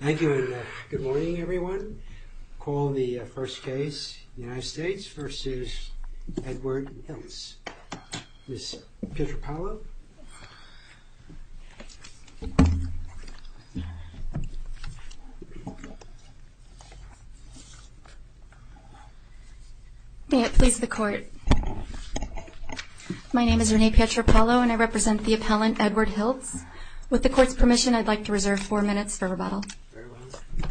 Thank you and good morning everyone. We'll call the first case, United States v. Edward Hilts. Ms. Pietropaolo? May it please the Court. My name is Renee Pietropaolo and I represent the appellant, Edward Hilts. With the Court's permission, I'd like to reserve four minutes for rebuttal. Very well.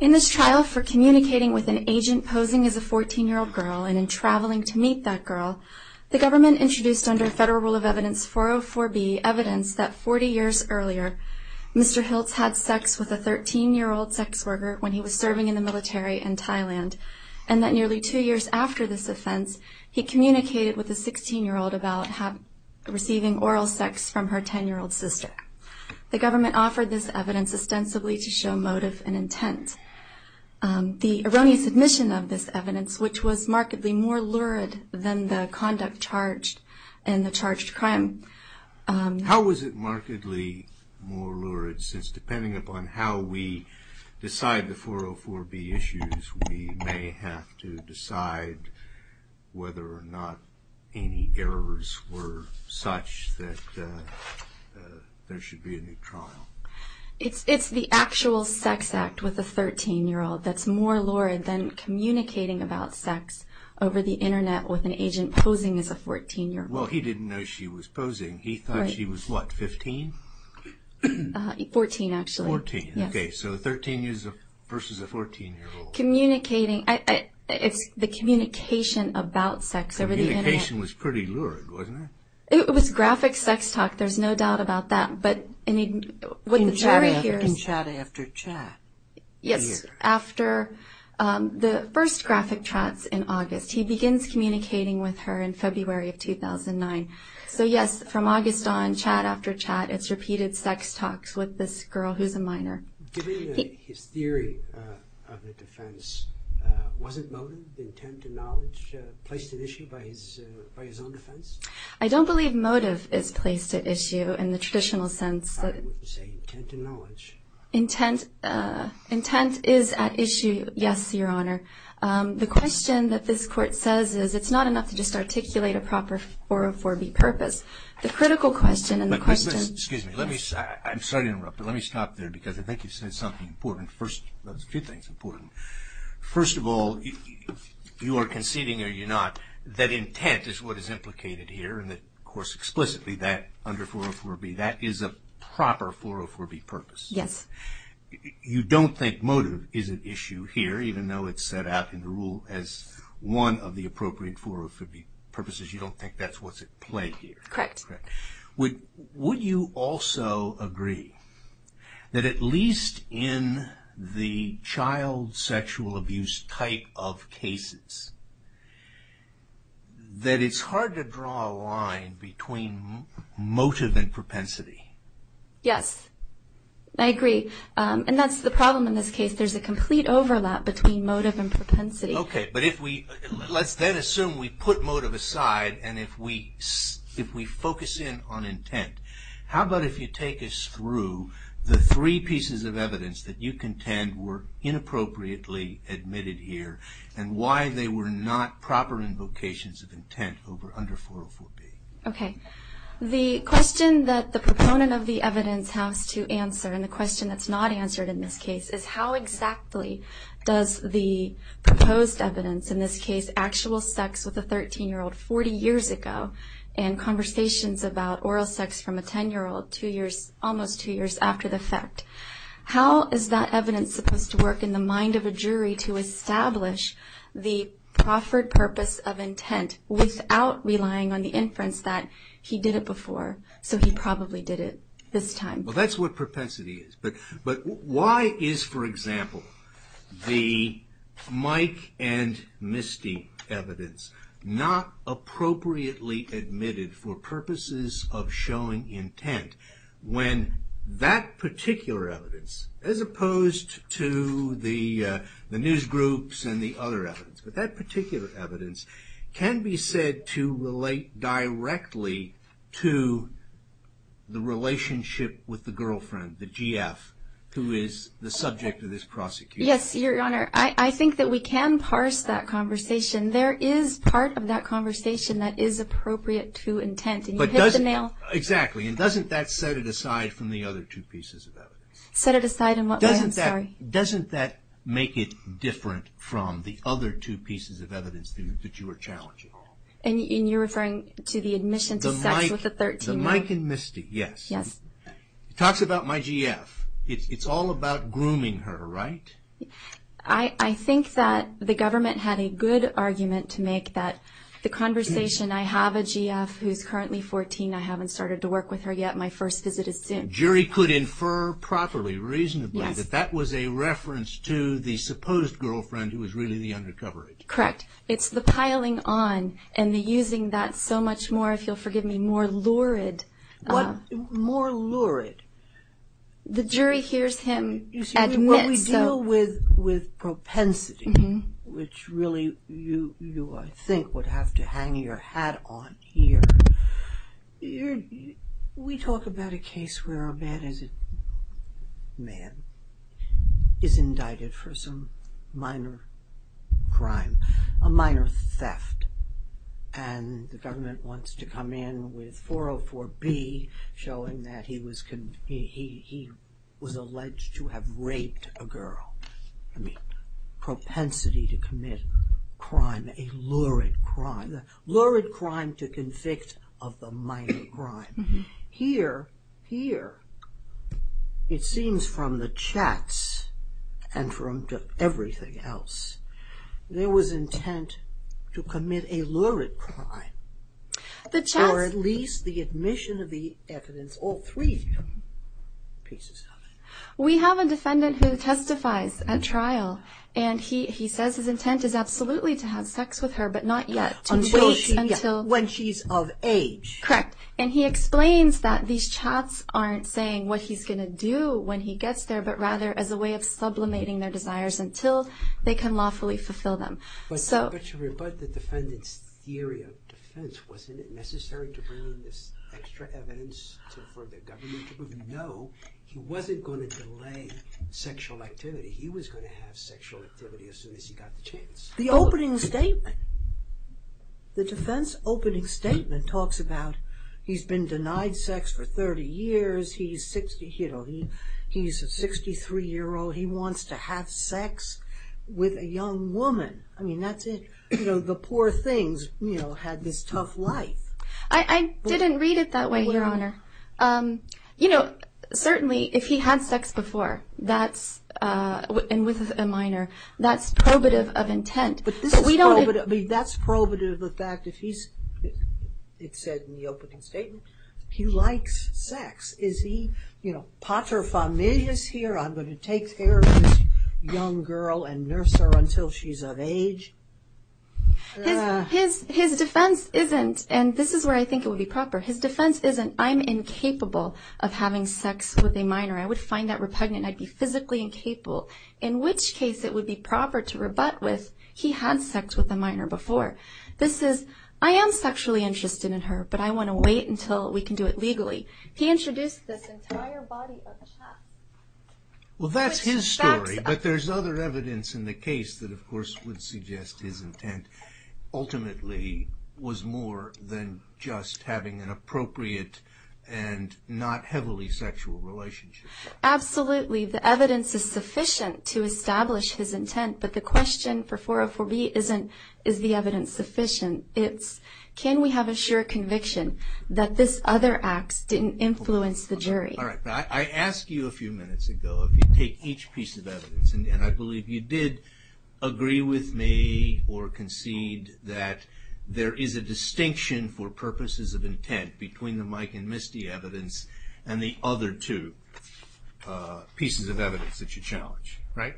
In this trial for communicating with an agent posing as a 14-year-old girl and in traveling to meet that girl, the government introduced under Federal Rule of Evidence 404B evidence that 40 years earlier, Mr. Hilts had sex with a 13-year-old sex worker when he was serving in the military in Thailand, and that nearly two years after this offense, he communicated with a 16-year-old about receiving oral sex from her 10-year-old sister. The government offered this evidence ostensibly to show motive and intent. The erroneous submission of this evidence, which was markedly more lurid than the conduct charged in the charged crime. How was it markedly more lurid? Since depending upon how we decide the 404B issues, we may have to decide whether or not any errors were such that there should be a new trial. It's the actual sex act with a 13-year-old that's more lurid than communicating about sex over the Internet with an agent posing as a 14-year-old. Well, he didn't know she was posing. He thought she was, what, 15? 14, actually. 14, okay. So 13 years versus a 14-year-old. Communicating. It's the communication about sex over the Internet. Communication was pretty lurid, wasn't it? It was graphic sex talk. There's no doubt about that. But what the jury hears. In chat after chat. Yes, after the first graphic chats in August. He begins communicating with her in February of 2009. So, yes, from August on, chat after chat, it's repeated sex talks with this girl who's a minor. Given his theory of the defense, wasn't motive, intent, and knowledge placed at issue by his own defense? I don't believe motive is placed at issue in the traditional sense. I would say intent and knowledge. Intent is at issue, yes, Your Honor. The question that this court says is it's not enough to just articulate a proper 404B purpose. The critical question and the question. Excuse me. I'm sorry to interrupt, but let me stop there because I think you said something important. First, a few things important. First of all, you are conceding or you're not that intent is what is implicated here. And, of course, explicitly that under 404B. That is a proper 404B purpose. Yes. You don't think motive is at issue here, even though it's set out in the rule as one of the appropriate 404B purposes. You don't think that's what's at play here. Correct. Would you also agree that at least in the child sexual abuse type of cases, that it's hard to draw a line between motive and propensity? Yes. I agree. And that's the problem in this case. There's a complete overlap between motive and propensity. Okay. But let's then assume we put motive aside and if we focus in on intent. How about if you take us through the three pieces of evidence that you contend were inappropriately admitted here and why they were not proper invocations of intent under 404B? Okay. The question that the proponent of the evidence has to answer, and the question that's not answered in this case, is how exactly does the proposed evidence, in this case actual sex with a 13-year-old 40 years ago, and conversations about oral sex from a 10-year-old almost two years after the fact, how is that evidence supposed to work in the mind of a jury to establish the proffered purpose of intent without relying on the inference that he did it before, so he probably did it this time? Well, that's what propensity is. But why is, for example, the Mike and Misty evidence not appropriately admitted for purposes of showing intent when that particular evidence, as opposed to the news groups and the other evidence, but that particular evidence can be said to relate directly to the relationship with the girlfriend, the GF, who is the subject of this prosecution? Yes, Your Honor. I think that we can parse that conversation. There is part of that conversation that is appropriate to intent. And you hit the nail. Exactly. And doesn't that set it aside from the other two pieces of evidence? Set it aside in what way? Doesn't that make it different from the other two pieces of evidence that you are challenging? And you're referring to the admission to sex with a 13-year-old? The Mike and Misty, yes. Yes. It talks about my GF. It's all about grooming her, right? I think that the government had a good argument to make that the conversation, I have a GF who is currently 14, I haven't started to work with her yet, my first visit is soon. The jury could infer properly, reasonably, that that was a reference to the supposed girlfriend who was really the undercover agent. Correct. It's the piling on and the using that so much more, if you'll forgive me, more lurid. More lurid. The jury hears him admit. You see, when we deal with propensity, which really you, I think, would have to hang your hat on here, we talk about a case where a man is indicted for some minor crime, a minor theft, and the government wants to come in with 404B, showing that he was alleged to have raped a girl. Propensity to commit crime, a lurid crime. Lurid crime to convict of the minor crime. Here, it seems from the chats and from everything else, there was intent to commit a lurid crime. The chats... Or at least the admission of the evidence, all three pieces of it. We have a defendant who testifies at trial, and he says his intent is absolutely to have sex with her, but not yet. Until she's of age. Correct. And he explains that these chats aren't saying what he's going to do when he gets there, but rather as a way of sublimating their desires until they can lawfully fulfill them. But to rebut the defendant's theory of defense, wasn't it necessary to bring in this extra evidence for the government to know he wasn't going to delay sexual activity? He was going to have sexual activity as soon as he got the chance. The opening statement, the defense opening statement, talks about he's been denied sex for 30 years, he's a 63-year-old, he wants to have sex with a young woman. I mean, that's it. The poor things had this tough life. I didn't read it that way, Your Honor. You know, certainly if he had sex before and with a minor, that's probative of intent. That's probative of the fact, it said in the opening statement, he likes sex. Is he paterfamilias here? I'm going to take care of this young girl and nurse her until she's of age? His defense isn't, and this is where I think it would be proper, his defense isn't, I'm incapable of having sex with a minor. I would find that repugnant and I'd be physically incapable, in which case it would be proper to rebut with, he had sex with a minor before. This is, I am sexually interested in her, but I want to wait until we can do it legally. He introduced this entire body of chat. Well, that's his story, but there's other evidence in the case that, of course, would suggest his intent ultimately was more than just having an appropriate and not heavily sexual relationship. Absolutely. The evidence is sufficient to establish his intent, but the question for 404B isn't, is the evidence sufficient? It's, can we have a sure conviction that this other act didn't influence the jury? I asked you a few minutes ago if you'd take each piece of evidence, and I believe you did agree with me or concede that there is a distinction for purposes of intent between the Mike and Misty evidence and the other two pieces of evidence that you challenge, right?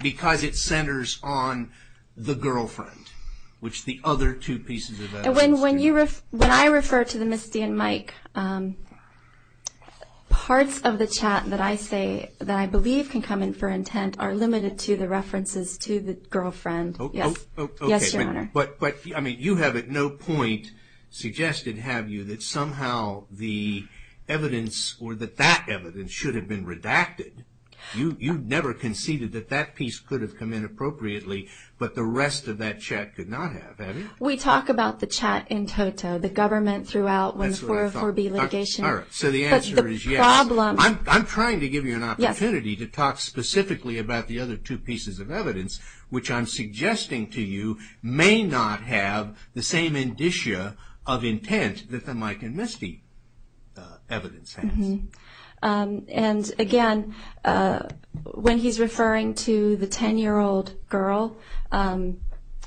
Because it centers on the girlfriend, which the other two pieces of evidence do. When I refer to the Misty and Mike, parts of the chat that I say that I believe can come in for intent are limited to the references to the girlfriend. Yes, Your Honor. But you have at no point suggested, have you, that somehow the evidence or that that evidence should have been redacted. You never conceded that that piece could have come in appropriately, but the rest of that chat could not have, had it? We talk about the chat in toto. The government threw out one 404B litigation. So the answer is yes. I'm trying to give you an opportunity to talk specifically about the other two pieces of evidence, which I'm suggesting to you may not have the same indicia of intent that the Mike and Misty evidence has. And again, when he's referring to the 10-year-old girl,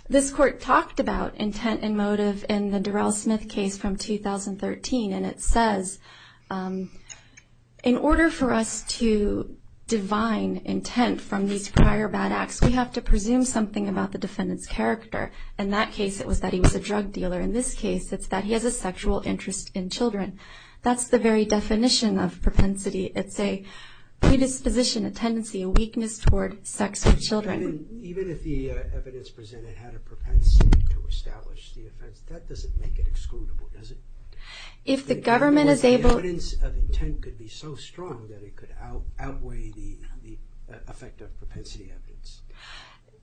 this Court talked about intent and motive in the Durrell-Smith case from 2013, and it says in order for us to divine intent from these prior bad acts, we have to presume something about the defendant's character. In that case, it was that he was a drug dealer. In this case, it's that he has a sexual interest in children. That's the very definition of propensity. It's a predisposition, a tendency, a weakness toward sex with children. Even if the evidence presented had a propensity to establish the offense, that doesn't make it excludable, does it? If the government is able... The evidence of intent could be so strong that it could outweigh the effect of propensity evidence.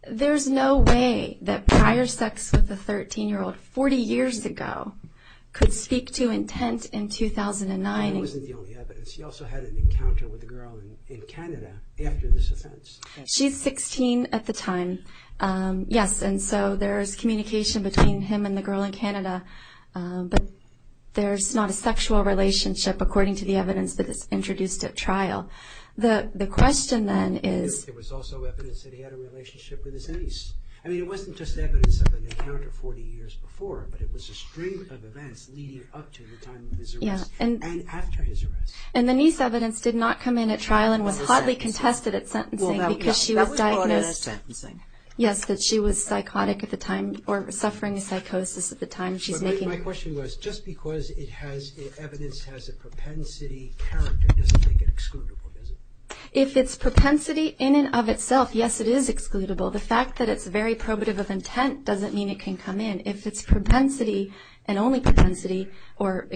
There's no way that prior sex with a 13-year-old 40 years ago could speak to intent in 2009. And that wasn't the only evidence. He also had an encounter with a girl in Canada after this offense. She's 16 at the time. Yes, and so there's communication between him and the girl in Canada, but there's not a sexual relationship according to the evidence that is introduced at trial. The question then is... There was also evidence that he had a relationship with his niece. I mean, it wasn't just evidence of an encounter 40 years before, but it was a string of events leading up to the time of his arrest and after his arrest. And the niece evidence did not come in at trial and was hotly contested at sentencing. That was hotly contested at sentencing. Yes, that she was psychotic at the time or suffering a psychosis at the time. My question was, just because evidence has a propensity character doesn't make it excludable, does it? If it's propensity in and of itself, yes, it is excludable. The fact that it's very probative of intent doesn't mean it can come in. If it's propensity and only propensity or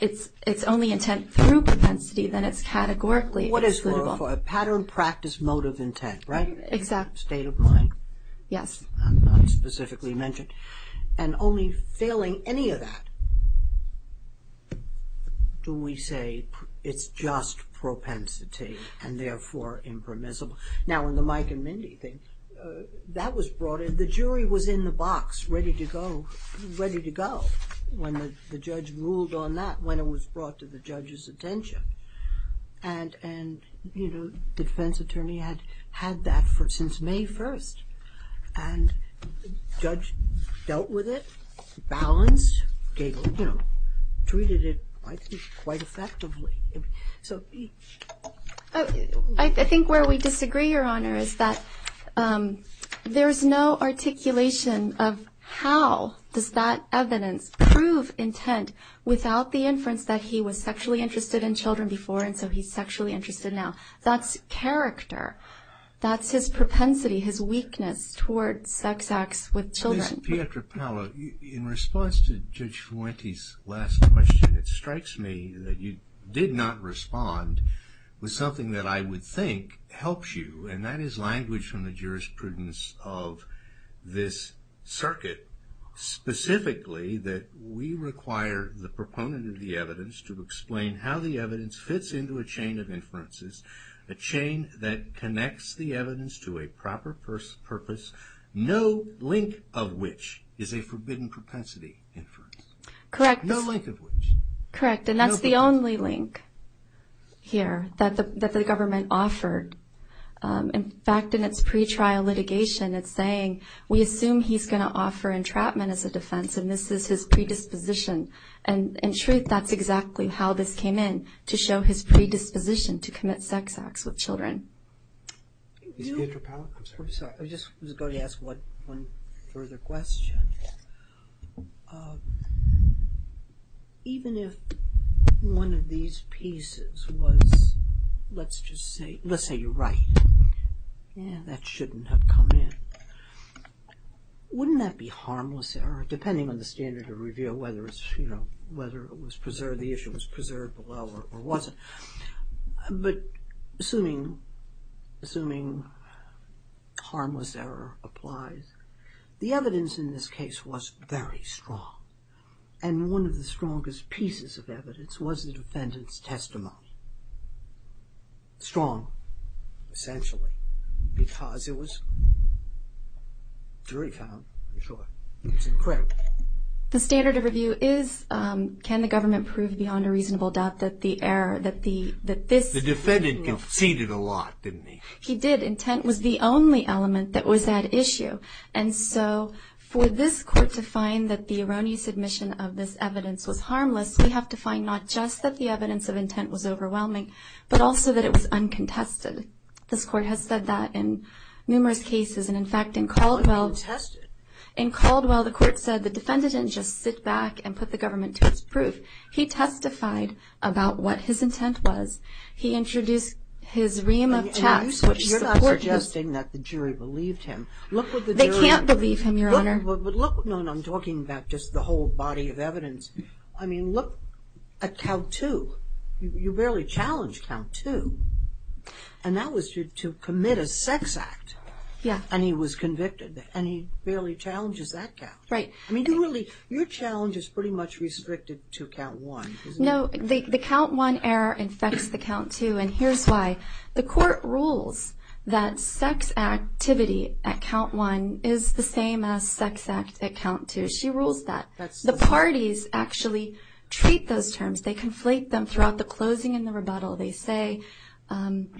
it's only intent through propensity, then it's categorically excludable. What is for a pattern, practice, motive, intent, right? Exactly. State of mind. Yes. Not specifically mentioned. And only failing any of that do we say it's just propensity and therefore impermissible. Now, in the Mike and Mindy thing, that was brought in. The jury was in the box ready to go when the judge ruled on that, when it was brought to the judge's attention. And the defense attorney had that since May 1st. And the judge dealt with it, balanced, treated it quite effectively. I think where we disagree, Your Honor, is that there is no articulation of how does that evidence prove intent without the inference that he was sexually interested in children before and so he's sexually interested now. That's character. That's his propensity, his weakness towards sex acts with children. Ms. Pietra Paolo, in response to Judge Fuente's last question, it strikes me that you did not respond with something that I would think helps you, and that is language from the jurisprudence of this circuit, specifically that we require the proponent of the evidence to explain how the evidence fits into a chain of inferences, a chain that connects the evidence to a proper purpose, no link of which is a forbidden propensity inference. Correct. No link of which. Correct. And that's the only link here that the government offered. In fact, in its pretrial litigation, it's saying, we assume he's going to offer entrapment as a defense, and this is his predisposition. And in truth, that's exactly how this came in, to show his predisposition to commit sex acts with children. Ms. Pietra Paolo, I'm sorry. I just was going to ask one further question. Even if one of these pieces was, let's just say, let's say you're right, yeah, that shouldn't have come in. Wouldn't that be harmless error, depending on the standard of review, whether it was preserved, the issue was preserved or wasn't? But assuming harmless error applies, the evidence in this case was very strong, and one of the strongest pieces of evidence was the defendant's testimony. Strong, essentially, because it was very calm, I'm sure. It was incorrect. The standard of review is, can the government prove beyond a reasonable doubt that the error, that this was wrong? The defendant conceded a lot, didn't he? He did. Intent was the only element that was at issue. And so for this court to find that the erroneous admission of this evidence was harmless, we have to find not just that the evidence of intent was overwhelming, but also that it was uncontested. This court has said that in numerous cases. And, in fact, in Caldwell. Uncontested. In Caldwell, the court said the defendant didn't just sit back and put the government to its proof. He testified about what his intent was. He introduced his ream of text. You're not suggesting that the jury believed him. They can't believe him, Your Honor. No, no, I'm talking about just the whole body of evidence. I mean, look at count two. You barely challenged count two. And that was to commit a sex act. And he was convicted. And he barely challenges that count. Right. I mean, your challenge is pretty much restricted to count one, isn't it? No, the count one error infects the count two. And here's why. The court rules that sex activity at count one is the same as sex act at count two. She rules that. The parties actually treat those terms. They conflate them throughout the closing and the rebuttal. They say, and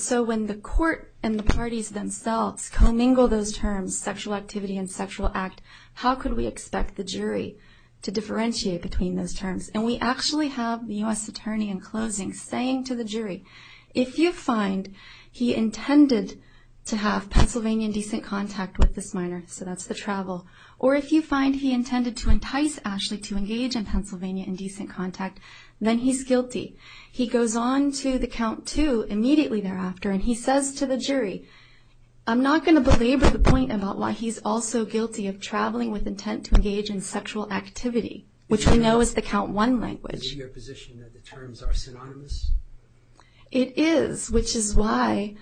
so when the court and the parties themselves commingle those terms, sexual activity and sexual act, how could we expect the jury to differentiate between those terms? And we actually have the U.S. attorney in closing saying to the jury, if you find he intended to have Pennsylvania decent contact with this minor, so that's the travel, or if you find he intended to entice Ashley to engage in Pennsylvania indecent contact, then he's guilty. He goes on to the count two immediately thereafter, and he says to the jury, I'm not going to belabor the point about why he's also guilty of traveling with intent to engage in sexual activity, which we know is the count one language. Is it your position that the terms are synonymous? It is, which is why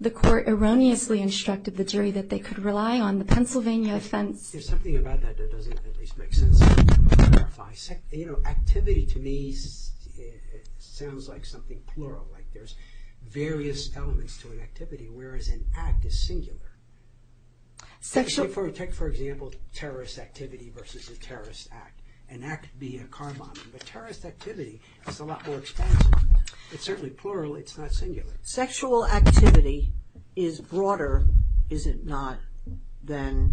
the court erroneously instructed the jury that they could rely on the Pennsylvania offense There's something about that that doesn't at least make sense. Activity to me sounds like something plural. There's various elements to an activity, whereas an act is singular. Take for example terrorist activity versus a terrorist act. An act being a car bombing, but terrorist activity is a lot more expansive. It's certainly plural, it's not singular. Sexual activity is broader, is it not, than,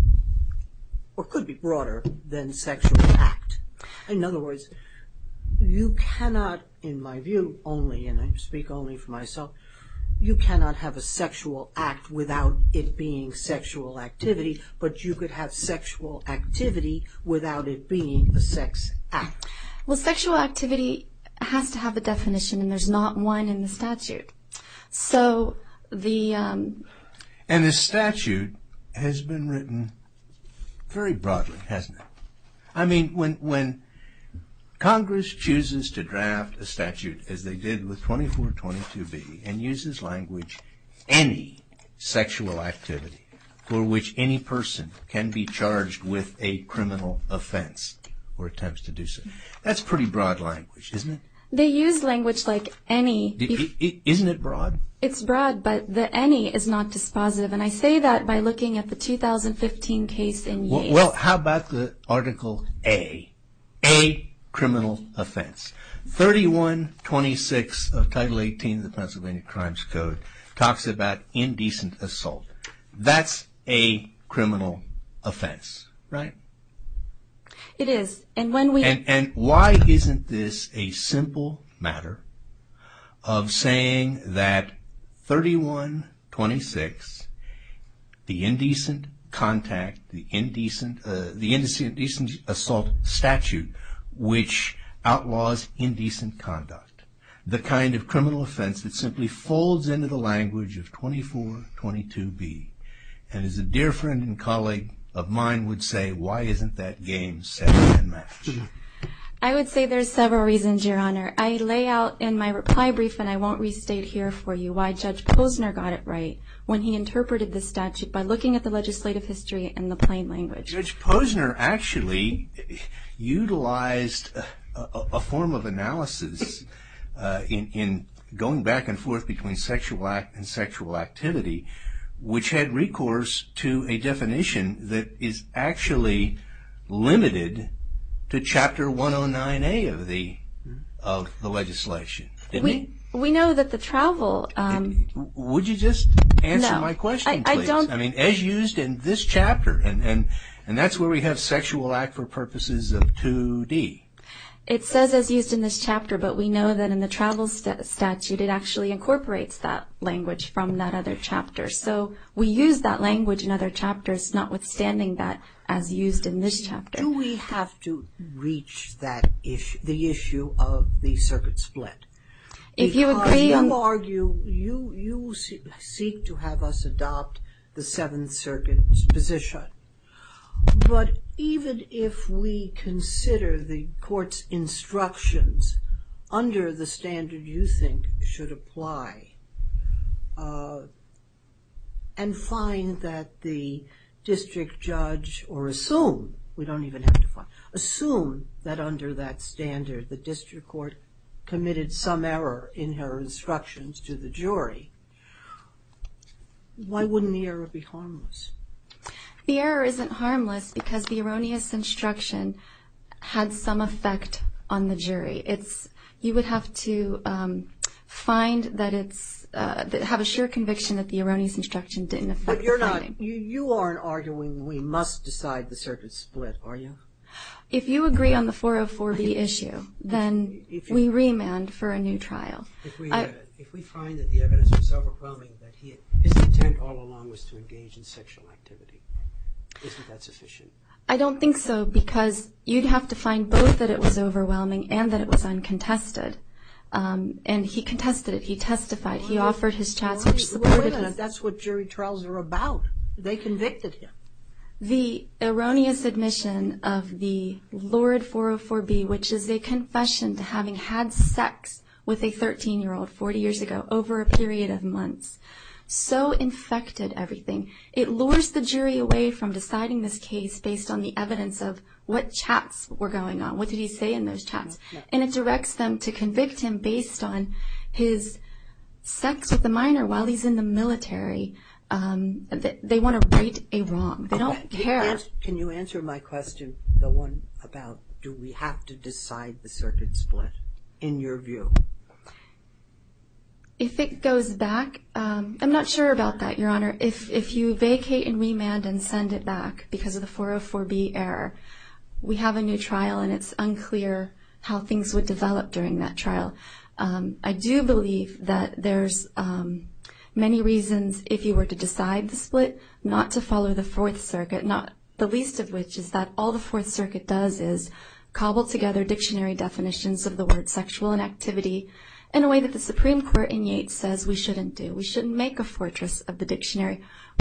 or could be broader than sexual act. In other words, you cannot, in my view only, and I speak only for myself, you cannot have a sexual act without it being sexual activity, but you could have sexual activity without it being a sex act. Well, sexual activity has to have a definition and there's not one in the statute. And the statute has been written very broadly, hasn't it? I mean, when Congress chooses to draft a statute as they did with 2422b and uses language, any sexual activity for which any person can be charged with a criminal offense or attempts to do so, that's pretty broad language, isn't it? They use language like any. Isn't it broad? It's broad, but the any is not dispositive. And I say that by looking at the 2015 case in Yates. Well, how about the Article A, a criminal offense? 3126 of Title 18 of the Pennsylvania Crimes Code talks about indecent assault. That's a criminal offense, right? It is. And why isn't this a simple matter of saying that 3126, the indecent contact, the indecent assault statute which outlaws indecent conduct, the kind of criminal offense that simply folds into the language of 2422b? And as a dear friend and colleague of mine would say, why isn't that game set and matched? I would say there's several reasons, Your Honor. I lay out in my reply brief, and I won't restate here for you, why Judge Posner got it right when he interpreted the statute by looking at the legislative history in the plain language. Judge Posner actually utilized a form of analysis in going back and forth between sexual act and sexual activity, which had recourse to a definition that is actually limited to Chapter 109A of the legislation. We know that the travel. Would you just answer my question, please? I mean, as used in this chapter, and that's where we have sexual act for purposes of 2D. It says as used in this chapter, but we know that in the travel statute, it actually incorporates that language from that other chapter. So we use that language in other chapters, notwithstanding that as used in this chapter. Do we have to reach the issue of the circuit split? If you agree and argue, you seek to have us adopt the Seventh Circuit's position. But even if we consider the court's instructions under the standard you think should apply, and find that the district judge, or assume, we don't even have to find, assume that under that standard the district court committed some error in her instructions to the jury, why wouldn't the error be harmless? The error isn't harmless because the erroneous instruction had some effect on the jury. You would have to have a sure conviction that the erroneous instruction didn't affect the finding. You aren't arguing we must decide the circuit split, are you? If you agree on the 404B issue, then we remand for a new trial. If we find that the evidence was overwhelming, that his intent all along was to engage in sexual activity, isn't that sufficient? I don't think so, because you'd have to find both that it was overwhelming and that it was uncontested. And he contested it. He testified. That's what jury trials are about. They convicted him. The erroneous admission of the lurid 404B, which is a confession to having had sex with a 13-year-old 40 years ago, over a period of months, so infected everything. It lures the jury away from deciding this case based on the evidence of what chats were going on. What did he say in those chats? And it directs them to convict him based on his sex with a minor while he's in the military. They want to right a wrong. They don't care. Can you answer my question, the one about do we have to decide the circuit split, in your view? If it goes back, I'm not sure about that, Your Honor. If you vacate and remand and send it back because of the 404B error, we have a new trial, and it's unclear how things would develop during that trial. I do believe that there's many reasons, if you were to decide the split, not to follow the Fourth Circuit, the least of which is that all the Fourth Circuit does is cobble together dictionary definitions of the word sexual inactivity in a way that the Supreme Court in Yeats says we shouldn't do. We're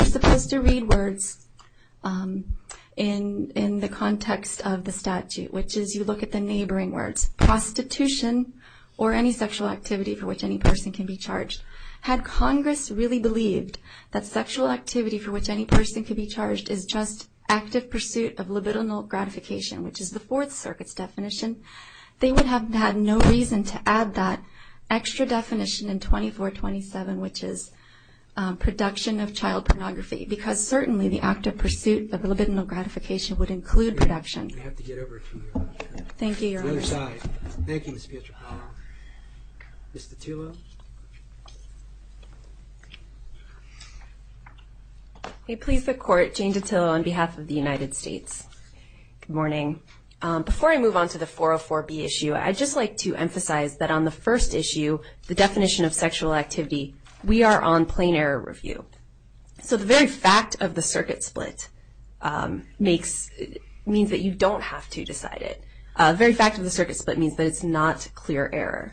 supposed to read words in the context of the statute, which is you look at the neighboring words, prostitution or any sexual activity for which any person can be charged. Had Congress really believed that sexual activity for which any person could be charged is just active pursuit of libidinal gratification, which is the Fourth Circuit's definition, they would have had no reason to add that extra definition in 2427, which is production of child pornography, because certainly the active pursuit of libidinal gratification would include production. We have to get over to the other side. Thank you, Your Honor. Thank you, Ms. Pietropano. Ms. DiTullo. I please the Court, Jane DiTullo, on behalf of the United States. Good morning. Before I move on to the 404B issue, I'd just like to emphasize that on the first issue, the definition of sexual activity, we are on plain error review. So the very fact of the circuit split means that you don't have to decide it. The very fact of the circuit split means that it's not clear error.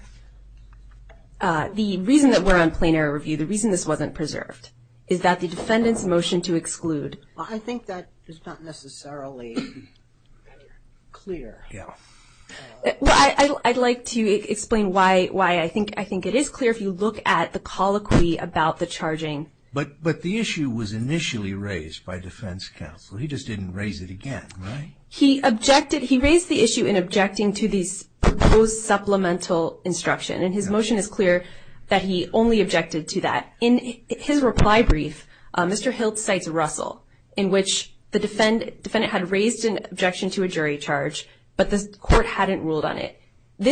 The reason that we're on plain error review, the reason this wasn't preserved, is that the defendant's motion to exclude. I think that is not necessarily clear. I'd like to explain why I think it is clear if you look at the colloquy about the charging. But the issue was initially raised by defense counsel. He just didn't raise it again, right? He raised the issue in objecting to the proposed supplemental instruction, and his motion is clear that he only objected to that. In his reply brief, Mr. Hiltz cites Russell, in which the defendant had raised an objection to a jury charge, but the court hadn't ruled on it. The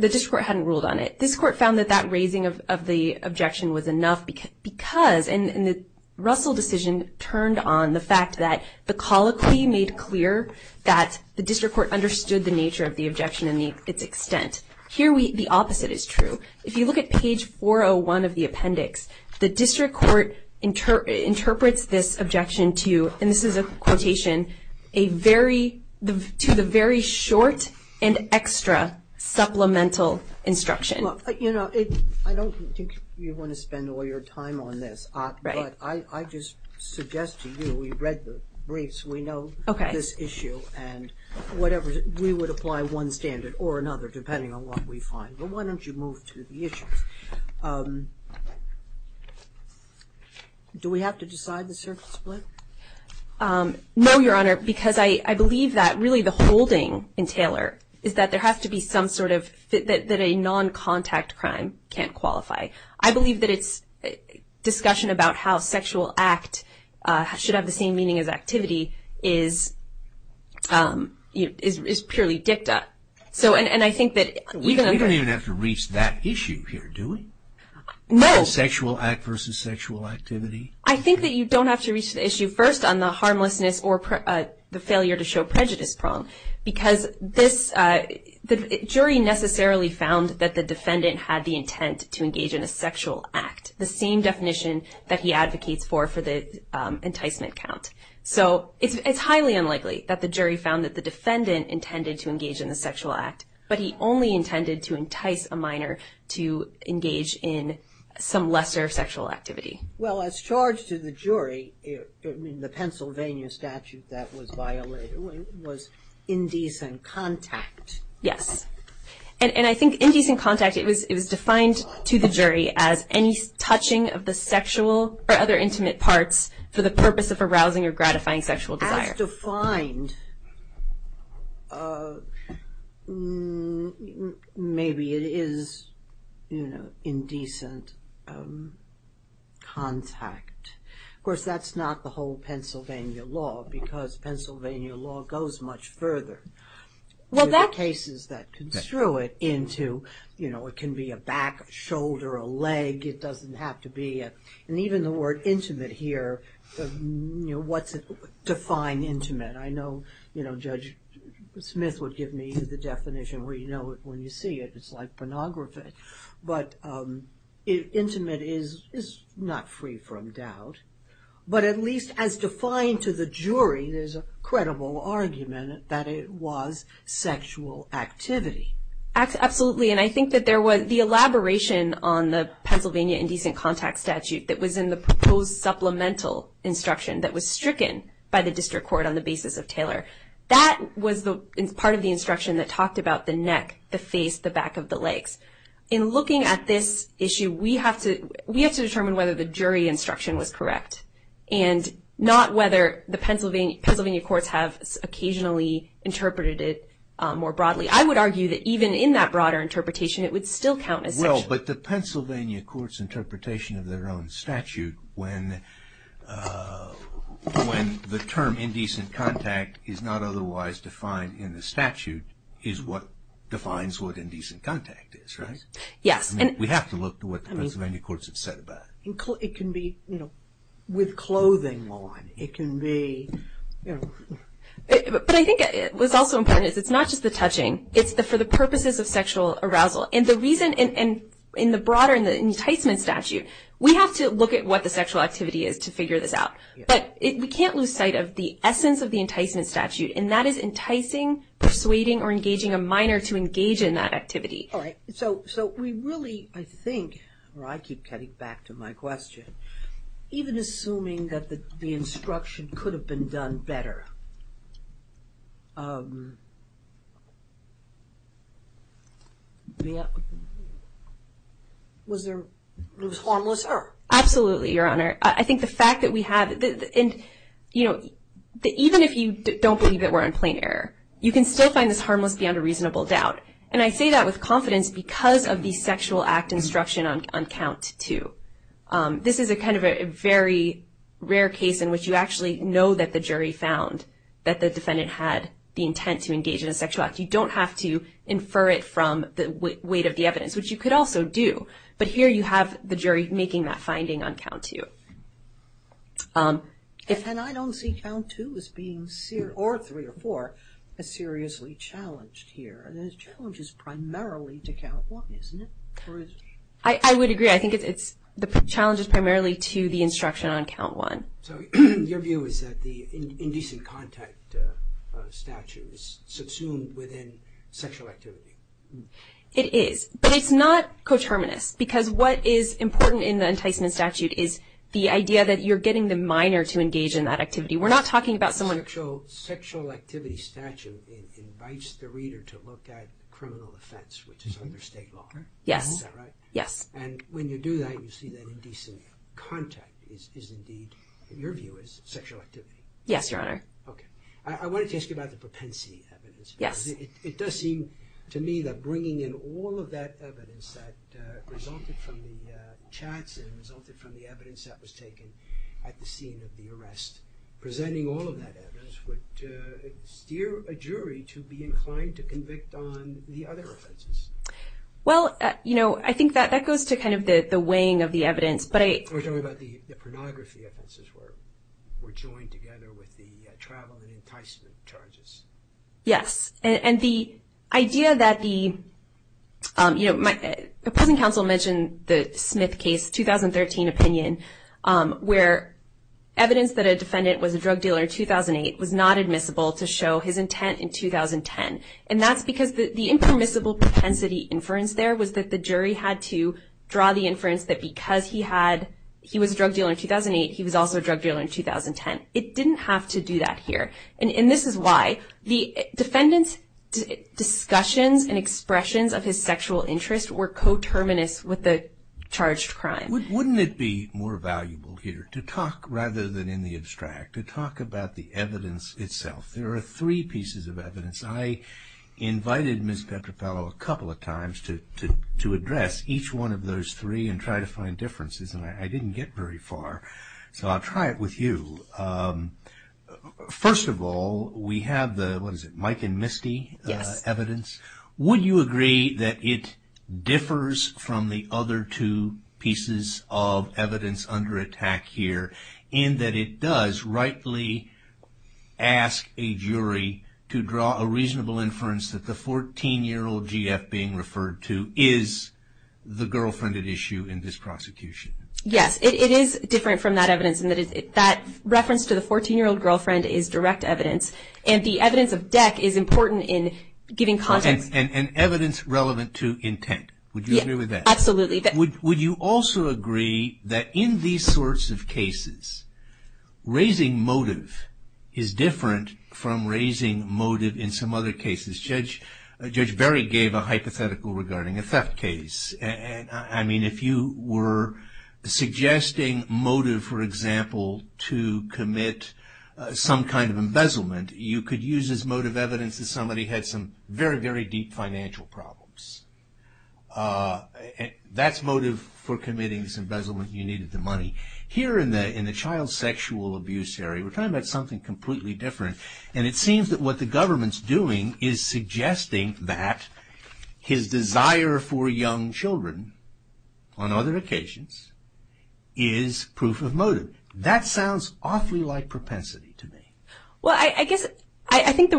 district court hadn't ruled on it. This court found that that raising of the objection was enough because, and the Russell decision turned on the fact that the colloquy made clear that the district court understood the nature of the objection and its extent. Here, the opposite is true. If you look at page 401 of the appendix, the district court interprets this objection to, and this is a quotation, to the very short and extra supplemental instruction. Well, you know, I don't think you want to spend all your time on this. Right. But I just suggest to you, we read the briefs, we know this issue, and we would apply one standard or another depending on what we find. But why don't you move to the issues? Do we have to decide the surface split? No, Your Honor, because I believe that really the holding in Taylor is that there has to be some sort of, that a non-contact crime can't qualify. I believe that it's discussion about how sexual act should have the same meaning as activity is purely dicta. You don't even have to reach that issue here, do we? No. Sexual act versus sexual activity? I think that you don't have to reach the issue first on the harmlessness or the failure to show prejudice prong, because the jury necessarily found that the defendant had the intent to engage in a sexual act, the same definition that he advocates for for the enticement count. So it's highly unlikely that the jury found that the defendant intended to engage in a sexual act, but he only intended to entice a minor to engage in some lesser sexual activity. Well, as charged to the jury in the Pennsylvania statute that was violated was indecent contact. Yes. And I think indecent contact, it was defined to the jury as any touching of the sexual or other intimate parts for the purpose of arousing or gratifying sexual desire. As defined, maybe it is indecent contact. Of course, that's not the whole Pennsylvania law, because Pennsylvania law goes much further. There are cases that construe it into, you know, it can be a back, a shoulder, a leg. It doesn't have to be. And even the word intimate here, you know, what's defined intimate? I know, you know, Judge Smith would give me the definition where you know it when you see it. It's like pornography. But intimate is not free from doubt. But at least as defined to the jury, there's a credible argument that it was sexual activity. Absolutely. And I think that there was the elaboration on the Pennsylvania indecent contact statute that was in the proposed supplemental instruction that was stricken by the district court on the basis of Taylor. That was part of the instruction that talked about the neck, the face, the back of the legs. In looking at this issue, we have to determine whether the jury instruction was correct and not whether the Pennsylvania courts have occasionally interpreted it more broadly. I would argue that even in that broader interpretation, it would still count as sexual. Well, but the Pennsylvania courts' interpretation of their own statute, when the term indecent contact is not otherwise defined in the statute, is what defines what indecent contact is, right? Yes. We have to look to what the Pennsylvania courts have said about it. It can be, you know, with clothing on. It can be, you know. But I think what's also important is it's not just the touching. It's for the purposes of sexual arousal. And the reason in the broader enticement statute, we have to look at what the sexual activity is to figure this out. But we can't lose sight of the essence of the enticement statute, and that is enticing, persuading, or engaging a minor to engage in that activity. All right. Even assuming that the instruction could have been done better, was there harmless error? Absolutely, Your Honor. I think the fact that we have, you know, even if you don't believe that we're on plain error, you can still find this harmless beyond a reasonable doubt. And I say that with confidence because of the sexual act instruction on count two. This is a kind of a very rare case in which you actually know that the jury found that the defendant had the intent to engage in a sexual act. You don't have to infer it from the weight of the evidence, which you could also do. But here you have the jury making that finding on count two. And I don't see count two as being, or three or four, as seriously challenged here. The challenge is primarily to count one, isn't it? I would agree. I think it's the challenge is primarily to the instruction on count one. So your view is that the indecent contact statute is subsumed within sexual activity? It is. But it's not coterminous because what is important in the enticement statute is the idea that you're getting the minor to engage in that activity. We're not talking about someone- The sexual activity statute invites the reader to look at criminal offense, which is under state law. Yes. Is that right? Yes. And when you do that, you see that indecent contact is indeed, in your view, is sexual activity? Yes, Your Honor. Okay. I wanted to ask you about the propensity evidence. Yes. It does seem to me that bringing in all of that evidence that resulted from the chats and resulted from the evidence that was taken at the scene of the arrest, presenting all of that evidence would steer a jury to be inclined to convict on the other offenses. Well, you know, I think that echoes to kind of the weighing of the evidence, but I- We're talking about the pornography offenses where we're joined together with the travel and enticement charges. Yes. And the idea that the- You know, the present counsel mentioned the Smith case, 2013 opinion, where evidence that a defendant was a drug dealer in 2008 was not admissible to show his intent in 2010. And that's because the impermissible propensity inference there was that the jury had to draw the inference that because he had- he was a drug dealer in 2008, he was also a drug dealer in 2010. It didn't have to do that here. And this is why the defendant's discussions and expressions of his sexual interest were coterminous with the charged crime. Wouldn't it be more valuable here to talk, rather than in the abstract, to talk about the evidence itself? There are three pieces of evidence. I invited Ms. Petropalo a couple of times to address each one of those three and try to find differences, and I didn't get very far. So I'll try it with you. First of all, we have the- what is it- Mike and Misty evidence. Yes. Would you agree that it differs from the other two pieces of evidence under attack here in that it does rightly ask a jury to draw a reasonable inference that the 14-year-old GF being referred to is the girlfriend at issue in this prosecution? Yes. It is different from that evidence in that that reference to the 14-year-old girlfriend is direct evidence, and the evidence of deck is important in giving context- And evidence relevant to intent. Would you agree with that? Absolutely. Would you also agree that in these sorts of cases, raising motive is different from raising motive in some other cases? Judge Berry gave a hypothetical regarding a theft case. I mean, if you were suggesting motive, for example, to commit some kind of embezzlement, you could use as motive evidence that somebody had some very, very deep financial problems. That's motive for committing this embezzlement. You needed the money. Here in the child sexual abuse area, we're talking about something completely different, and it seems that what the government's doing is suggesting that his desire for young children, on other occasions, is proof of motive. That sounds awfully like propensity to me. Well, I guess I think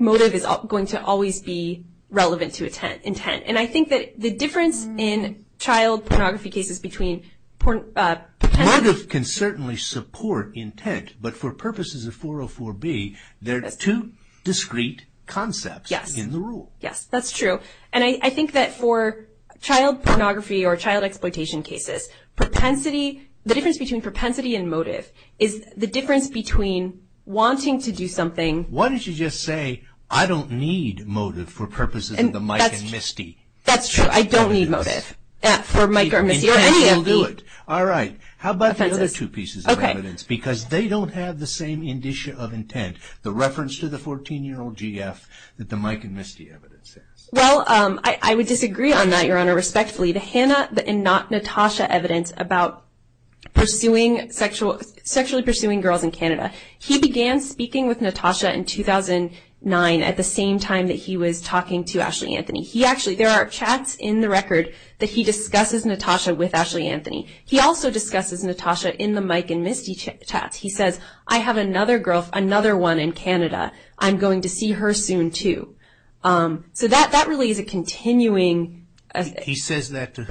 motive is going to always be relevant to intent, and I think that the difference in child pornography cases between- Motive can certainly support intent, but for purposes of 404B, there are two discrete concepts in the rule. Yes. That's true, and I think that for child pornography or child exploitation cases, the difference between propensity and motive is the difference between wanting to do something- Why don't you just say, I don't need motive for purposes of the Mike and Misty? That's true. I don't need motive for Mike or Misty or any of these. All right. How about the other two pieces of evidence? Because they don't have the same indicia of intent, the reference to the 14-year-old GF that the Mike and Misty evidence has. Well, I would disagree on that, Your Honor, respectfully. The Hannah and not Natasha evidence about sexually pursuing girls in Canada, he began speaking with Natasha in 2009 at the same time that he was talking to Ashley Anthony. There are chats in the record that he discusses Natasha with Ashley Anthony. He also discusses Natasha in the Mike and Misty chats. He says, I have another one in Canada. I'm going to see her soon, too. So that really is a continuing- He says that to-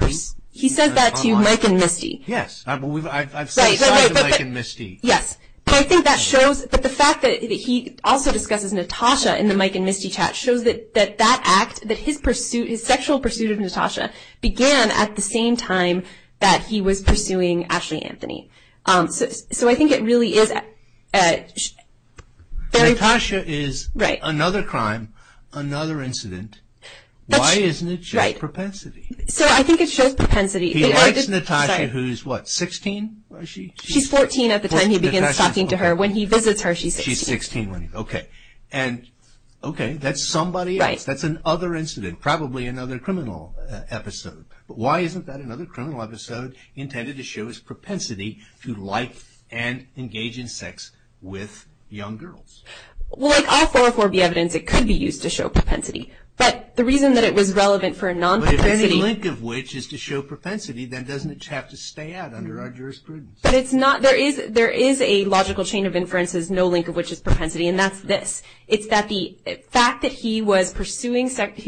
He says that to Mike and Misty. Yes. I've said sorry to Mike and Misty. Yes. But I think that shows, but the fact that he also discusses Natasha in the Mike and Misty chat shows that that act, that his sexual pursuit of Natasha began at the same time that he was pursuing Ashley Anthony. So I think it really is- Natasha is another crime, another incident. Why doesn't it show propensity? So I think it shows propensity. He likes Natasha, who is what, 16? She's 14 at the time he begins talking to her. When he visits her, she's 16. She's 16. Okay. That's somebody else. That's another incident, probably another criminal episode. But why isn't that another criminal episode intended to show his propensity to like and engage in sex with young girls? Well, like all 404B evidence, it could be used to show propensity. But the reason that it was relevant for a non-propensity- But if any link of which is to show propensity, then doesn't it have to stay out under our jurisprudence? But it's not. There is a logical chain of inferences, no link of which is propensity, and that's this. It's that the fact that he was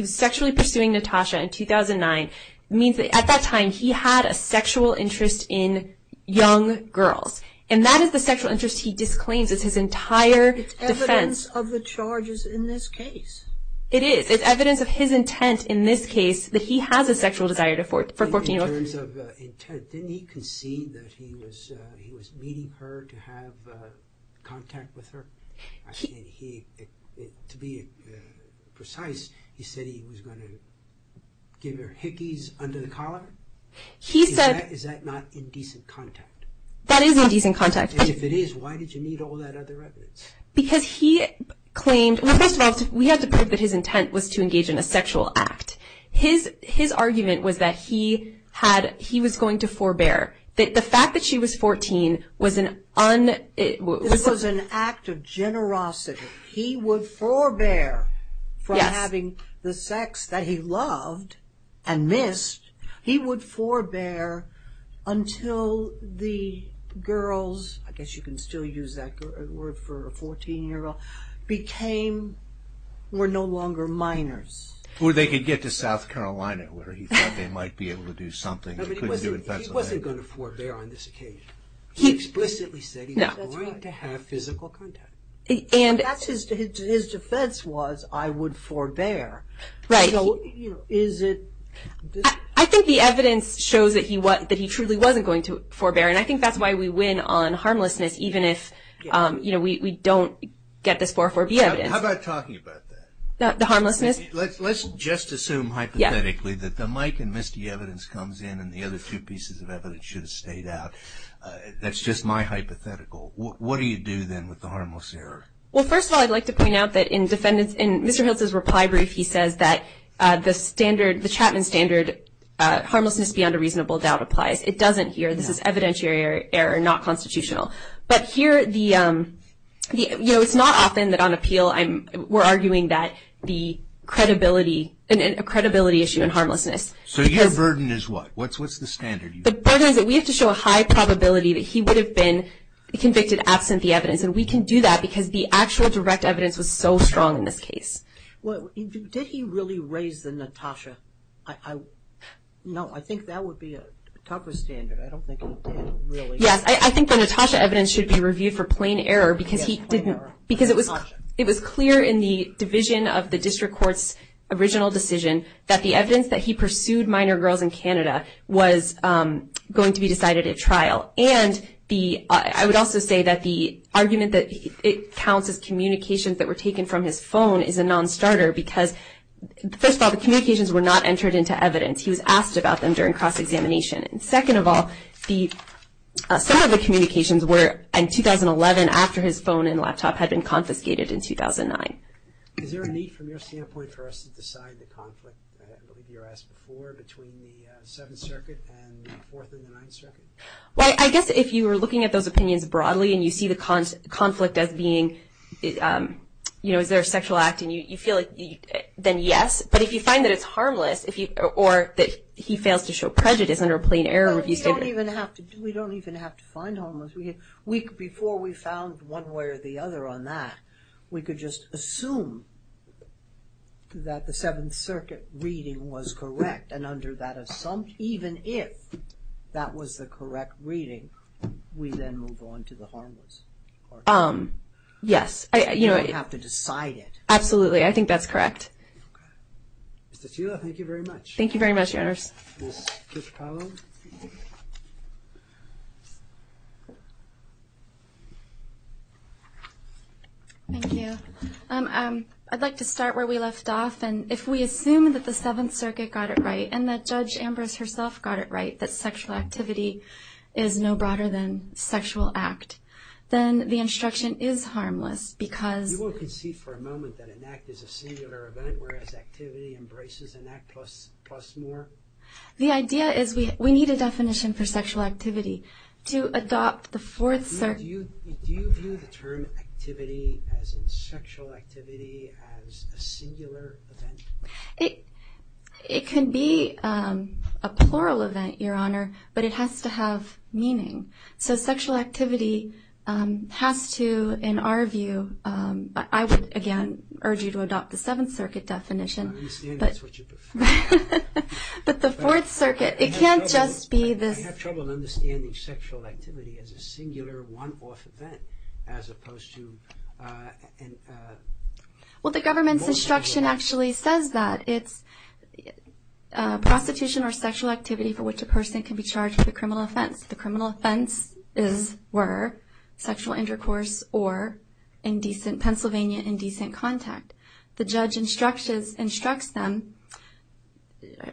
sexually pursuing Natasha in 2009 means that at that time, he had a sexual interest in young girls. And that is the sexual interest he disclaims. It's his entire defense. It's evidence of the charges in this case. It is. It's evidence of his intent in this case that he has a sexual desire for 14-year-olds. In terms of intent, didn't he concede that he was meeting her to have contact with her? To be precise, he said he was going to give her hickeys under the collar? He said- Is that not indecent contact? That is indecent contact. And if it is, why did you need all that other evidence? Because he claimed- Well, first of all, we have to prove that his intent was to engage in a sexual act. His argument was that he was going to forbear. The fact that she was 14 was an un- It was an act of generosity. He would forbear from having the sex that he loved and missed. He would forbear until the girls- I guess you can still use that word for a 14-year-old- were no longer minors. Or they could get to South Carolina where he thought they might be able to do something. He wasn't going to forbear on this occasion. He explicitly said he was going to have physical contact. His defense was, I would forbear. Right. So is it- I think the evidence shows that he truly wasn't going to forbear. And I think that's why we win on harmlessness, even if we don't get this 404B evidence. How about talking about that? The harmlessness? Let's just assume hypothetically that the Mike and Misty evidence comes in and the other two pieces of evidence should have stayed out. That's just my hypothetical. What do you do then with the harmless error? Well, first of all, I'd like to point out that in Mr. Hiltz's reply brief, he says that the Chapman standard, harmlessness beyond a reasonable doubt, applies. It doesn't here. This is evidentiary error, not constitutional. But here, it's not often that on appeal we're arguing that the credibility issue and harmlessness. So your burden is what? What's the standard? The burden is that we have to show a high probability that he would have been convicted absent the evidence. And we can do that because the actual direct evidence was so strong in this case. Did he really raise the Natasha? No, I think that would be a tougher standard. I don't think he did really. Yes, I think the Natasha evidence should be reviewed for plain error because he didn't. Because it was clear in the division of the district court's original decision that the evidence that he pursued minor girls in Canada was going to be decided at trial. I would also say that the argument that it counts as communications that were taken from his phone is a non-starter because, first of all, the communications were not entered into evidence. He was asked about them during cross-examination. And second of all, some of the communications were in 2011 after his phone and laptop had been confiscated in 2009. Is there a need from your standpoint for us to decide the conflict, I believe you were asked before, between the Seventh Circuit and the Fourth and the Ninth Circuit? Well, I guess if you were looking at those opinions broadly and you see the conflict as being, you know, is there a sexual act and you feel like, then yes. But if you find that it's harmless or that he fails to show prejudice under a plain error review standard. We don't even have to find homeless. Before we found one way or the other on that, we could just assume that the Seventh Circuit reading was correct and under that assumption, even if that was the correct reading, we then move on to the harmless. Yes. We don't have to decide it. Absolutely. I think that's correct. Okay. Ms. Teula, thank you very much. Thank you very much, Your Honors. Thank you. I'd like to start where we left off. And if we assume that the Seventh Circuit got it right and that Judge Ambrose herself got it right, that sexual activity is no broader than sexual act, then the instruction is harmless because... You won't concede for a moment that an act is a singular event, whereas activity embraces an act plus more? The idea is we need a definition for sexual activity. Do you view the term activity as in sexual activity as a singular event? It can be a plural event, Your Honor, but it has to have meaning. So sexual activity has to, in our view... I would, again, urge you to adopt the Seventh Circuit definition. I understand that's what you prefer. But the Fourth Circuit, it can't just be this... I have trouble understanding sexual activity as a singular one-off event as opposed to... Well, the government's instruction actually says that. It's prostitution or sexual activity for which a person can be charged with a criminal offense. The criminal offense is, were, sexual intercourse or Pennsylvania indecent contact. The judge instructs them...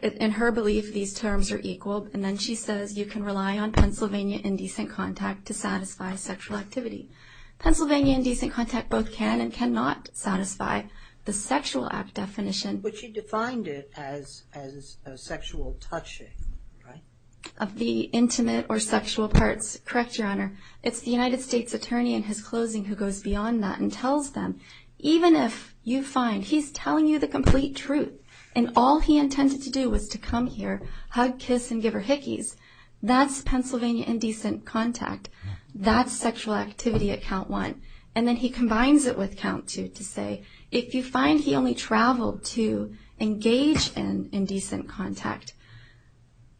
In her belief, these terms are equal. And then she says you can rely on Pennsylvania indecent contact to satisfy sexual activity. Pennsylvania indecent contact both can and cannot satisfy the Sexual Act definition. But she defined it as sexual touching, right? Of the intimate or sexual parts. Correct, Your Honor. It's the United States attorney in his closing who goes beyond that and tells them...... to come here, hug, kiss, and give her hickeys. That's Pennsylvania indecent contact. That's sexual activity at count one. And then he combines it with count two to say if you find he only traveled to engage in indecent contact...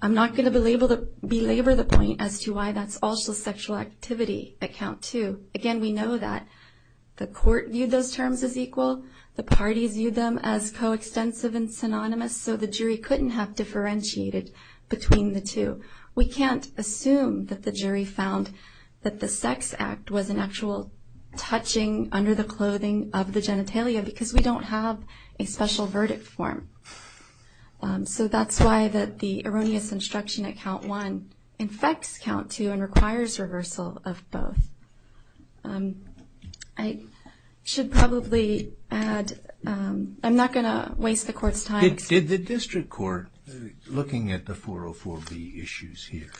I'm not going to belabor the point as to why that's also sexual activity at count two. Again, we know that the court viewed those terms as equal. The parties viewed them as coextensive and synonymous. So the jury couldn't have differentiated between the two. We can't assume that the jury found that the sex act was an actual touching under the clothing of the genitalia. Because we don't have a special verdict form. So that's why the erroneous instruction at count one infects count two and requires reversal of both. I should probably add... I'm not going to waste the court's time. Did the district court, looking at the 404B issues here,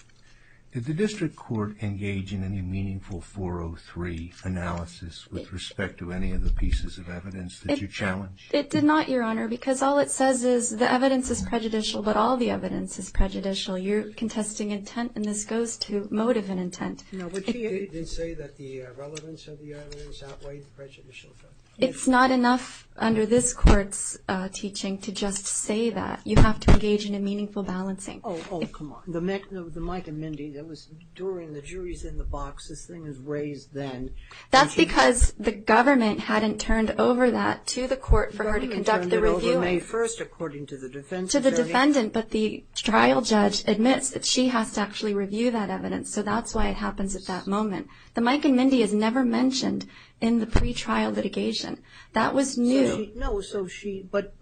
did the district court engage in any meaningful 403 analysis with respect to any of the pieces of evidence that you challenged? It did not, Your Honor, because all it says is the evidence is prejudicial, but all the evidence is prejudicial. You're contesting intent, and this goes to motive and intent. No, but she did say that the relevance of the evidence outweighed the prejudicial effect. It's not enough under this court's teaching to just say that. You have to engage in a meaningful balancing. Oh, come on. The Mike and Mindy, that was during the jury's in the box. This thing was raised then. That's because the government hadn't turned over that to the court for her to conduct the review. The government turned it over May 1st, according to the defense attorney. To the defendant, but the trial judge admits that she has to actually review that evidence. So that's why it happens at that moment. The Mike and Mindy is never mentioned in the pretrial litigation. That was new. No, so she, but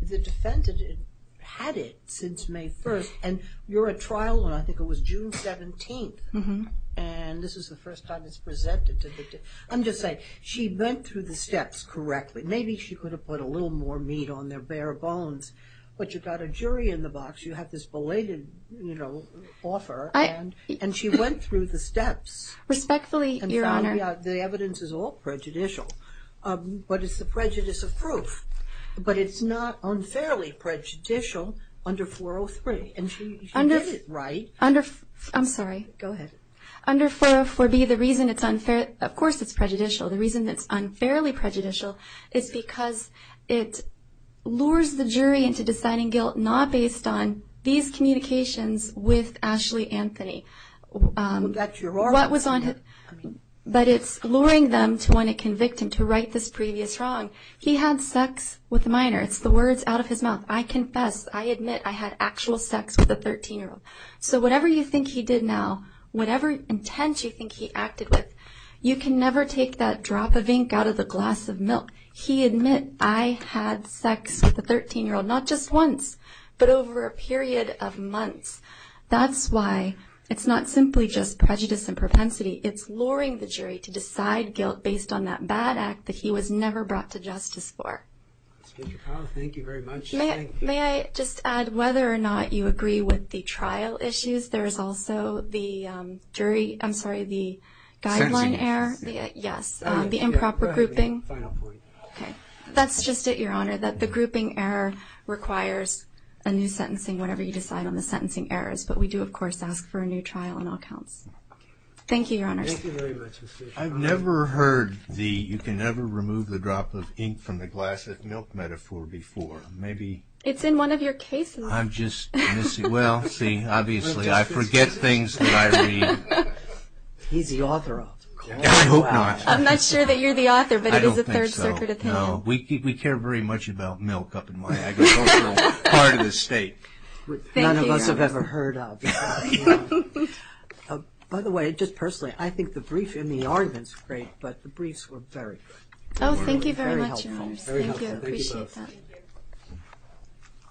the defendant had it since May 1st, and you're at trial, and I think it was June 17th, and this is the first time it's presented to the, I'm just saying, she went through the steps correctly. Maybe she could have put a little more meat on their bare bones, but you've got a jury in the box. You have this belated, you know, offer, and she went through the steps. Respectfully, Your Honor. The evidence is all prejudicial, but it's the prejudice of proof. But it's not unfairly prejudicial under 403, and she did it right. I'm sorry. Go ahead. Under 404B, the reason it's unfair, of course it's prejudicial. The reason it's unfairly prejudicial is because it lures the jury into deciding guilt not based on these communications with Ashley Anthony. Well, that's your argument. But it's luring them to want to convict him, to right this previous wrong. He had sex with a minor. It's the words out of his mouth. I confess. I admit I had actual sex with a 13-year-old. So whatever you think he did now, whatever intent you think he acted with, you can never take that drop of ink out of the glass of milk. He admit I had sex with a 13-year-old, not just once, but over a period of months. That's why it's not simply just prejudice and propensity. It's luring the jury to decide guilt based on that bad act that he was never brought to justice for. Thank you very much. Thank you. May I just add, whether or not you agree with the trial issues, there is also the jury, I'm sorry, the guideline error. Sentencing. Yes, the improper grouping. Go ahead. I'll find out for you. That's just it, Your Honor, that the grouping error requires a new sentencing, whatever you decide on the sentencing errors. But we do, of course, ask for a new trial in all counts. Thank you, Your Honor. Thank you very much. I've never heard the you can never remove the drop of ink from the glass of milk metaphor before. It's in one of your cases. I'm just missing, well, see, obviously I forget things that I read. He's the author of it. I hope not. I'm not sure that you're the author, but it is a Third Circuit opinion. I don't think so, no. We care very much about milk up in Miami. It's also part of the state. None of us have ever heard of it. By the way, just personally, I think the brief in the argument is great, but the briefs were very good. Oh, thank you very much, Your Honor. Very helpful. Thank you. Appreciate that.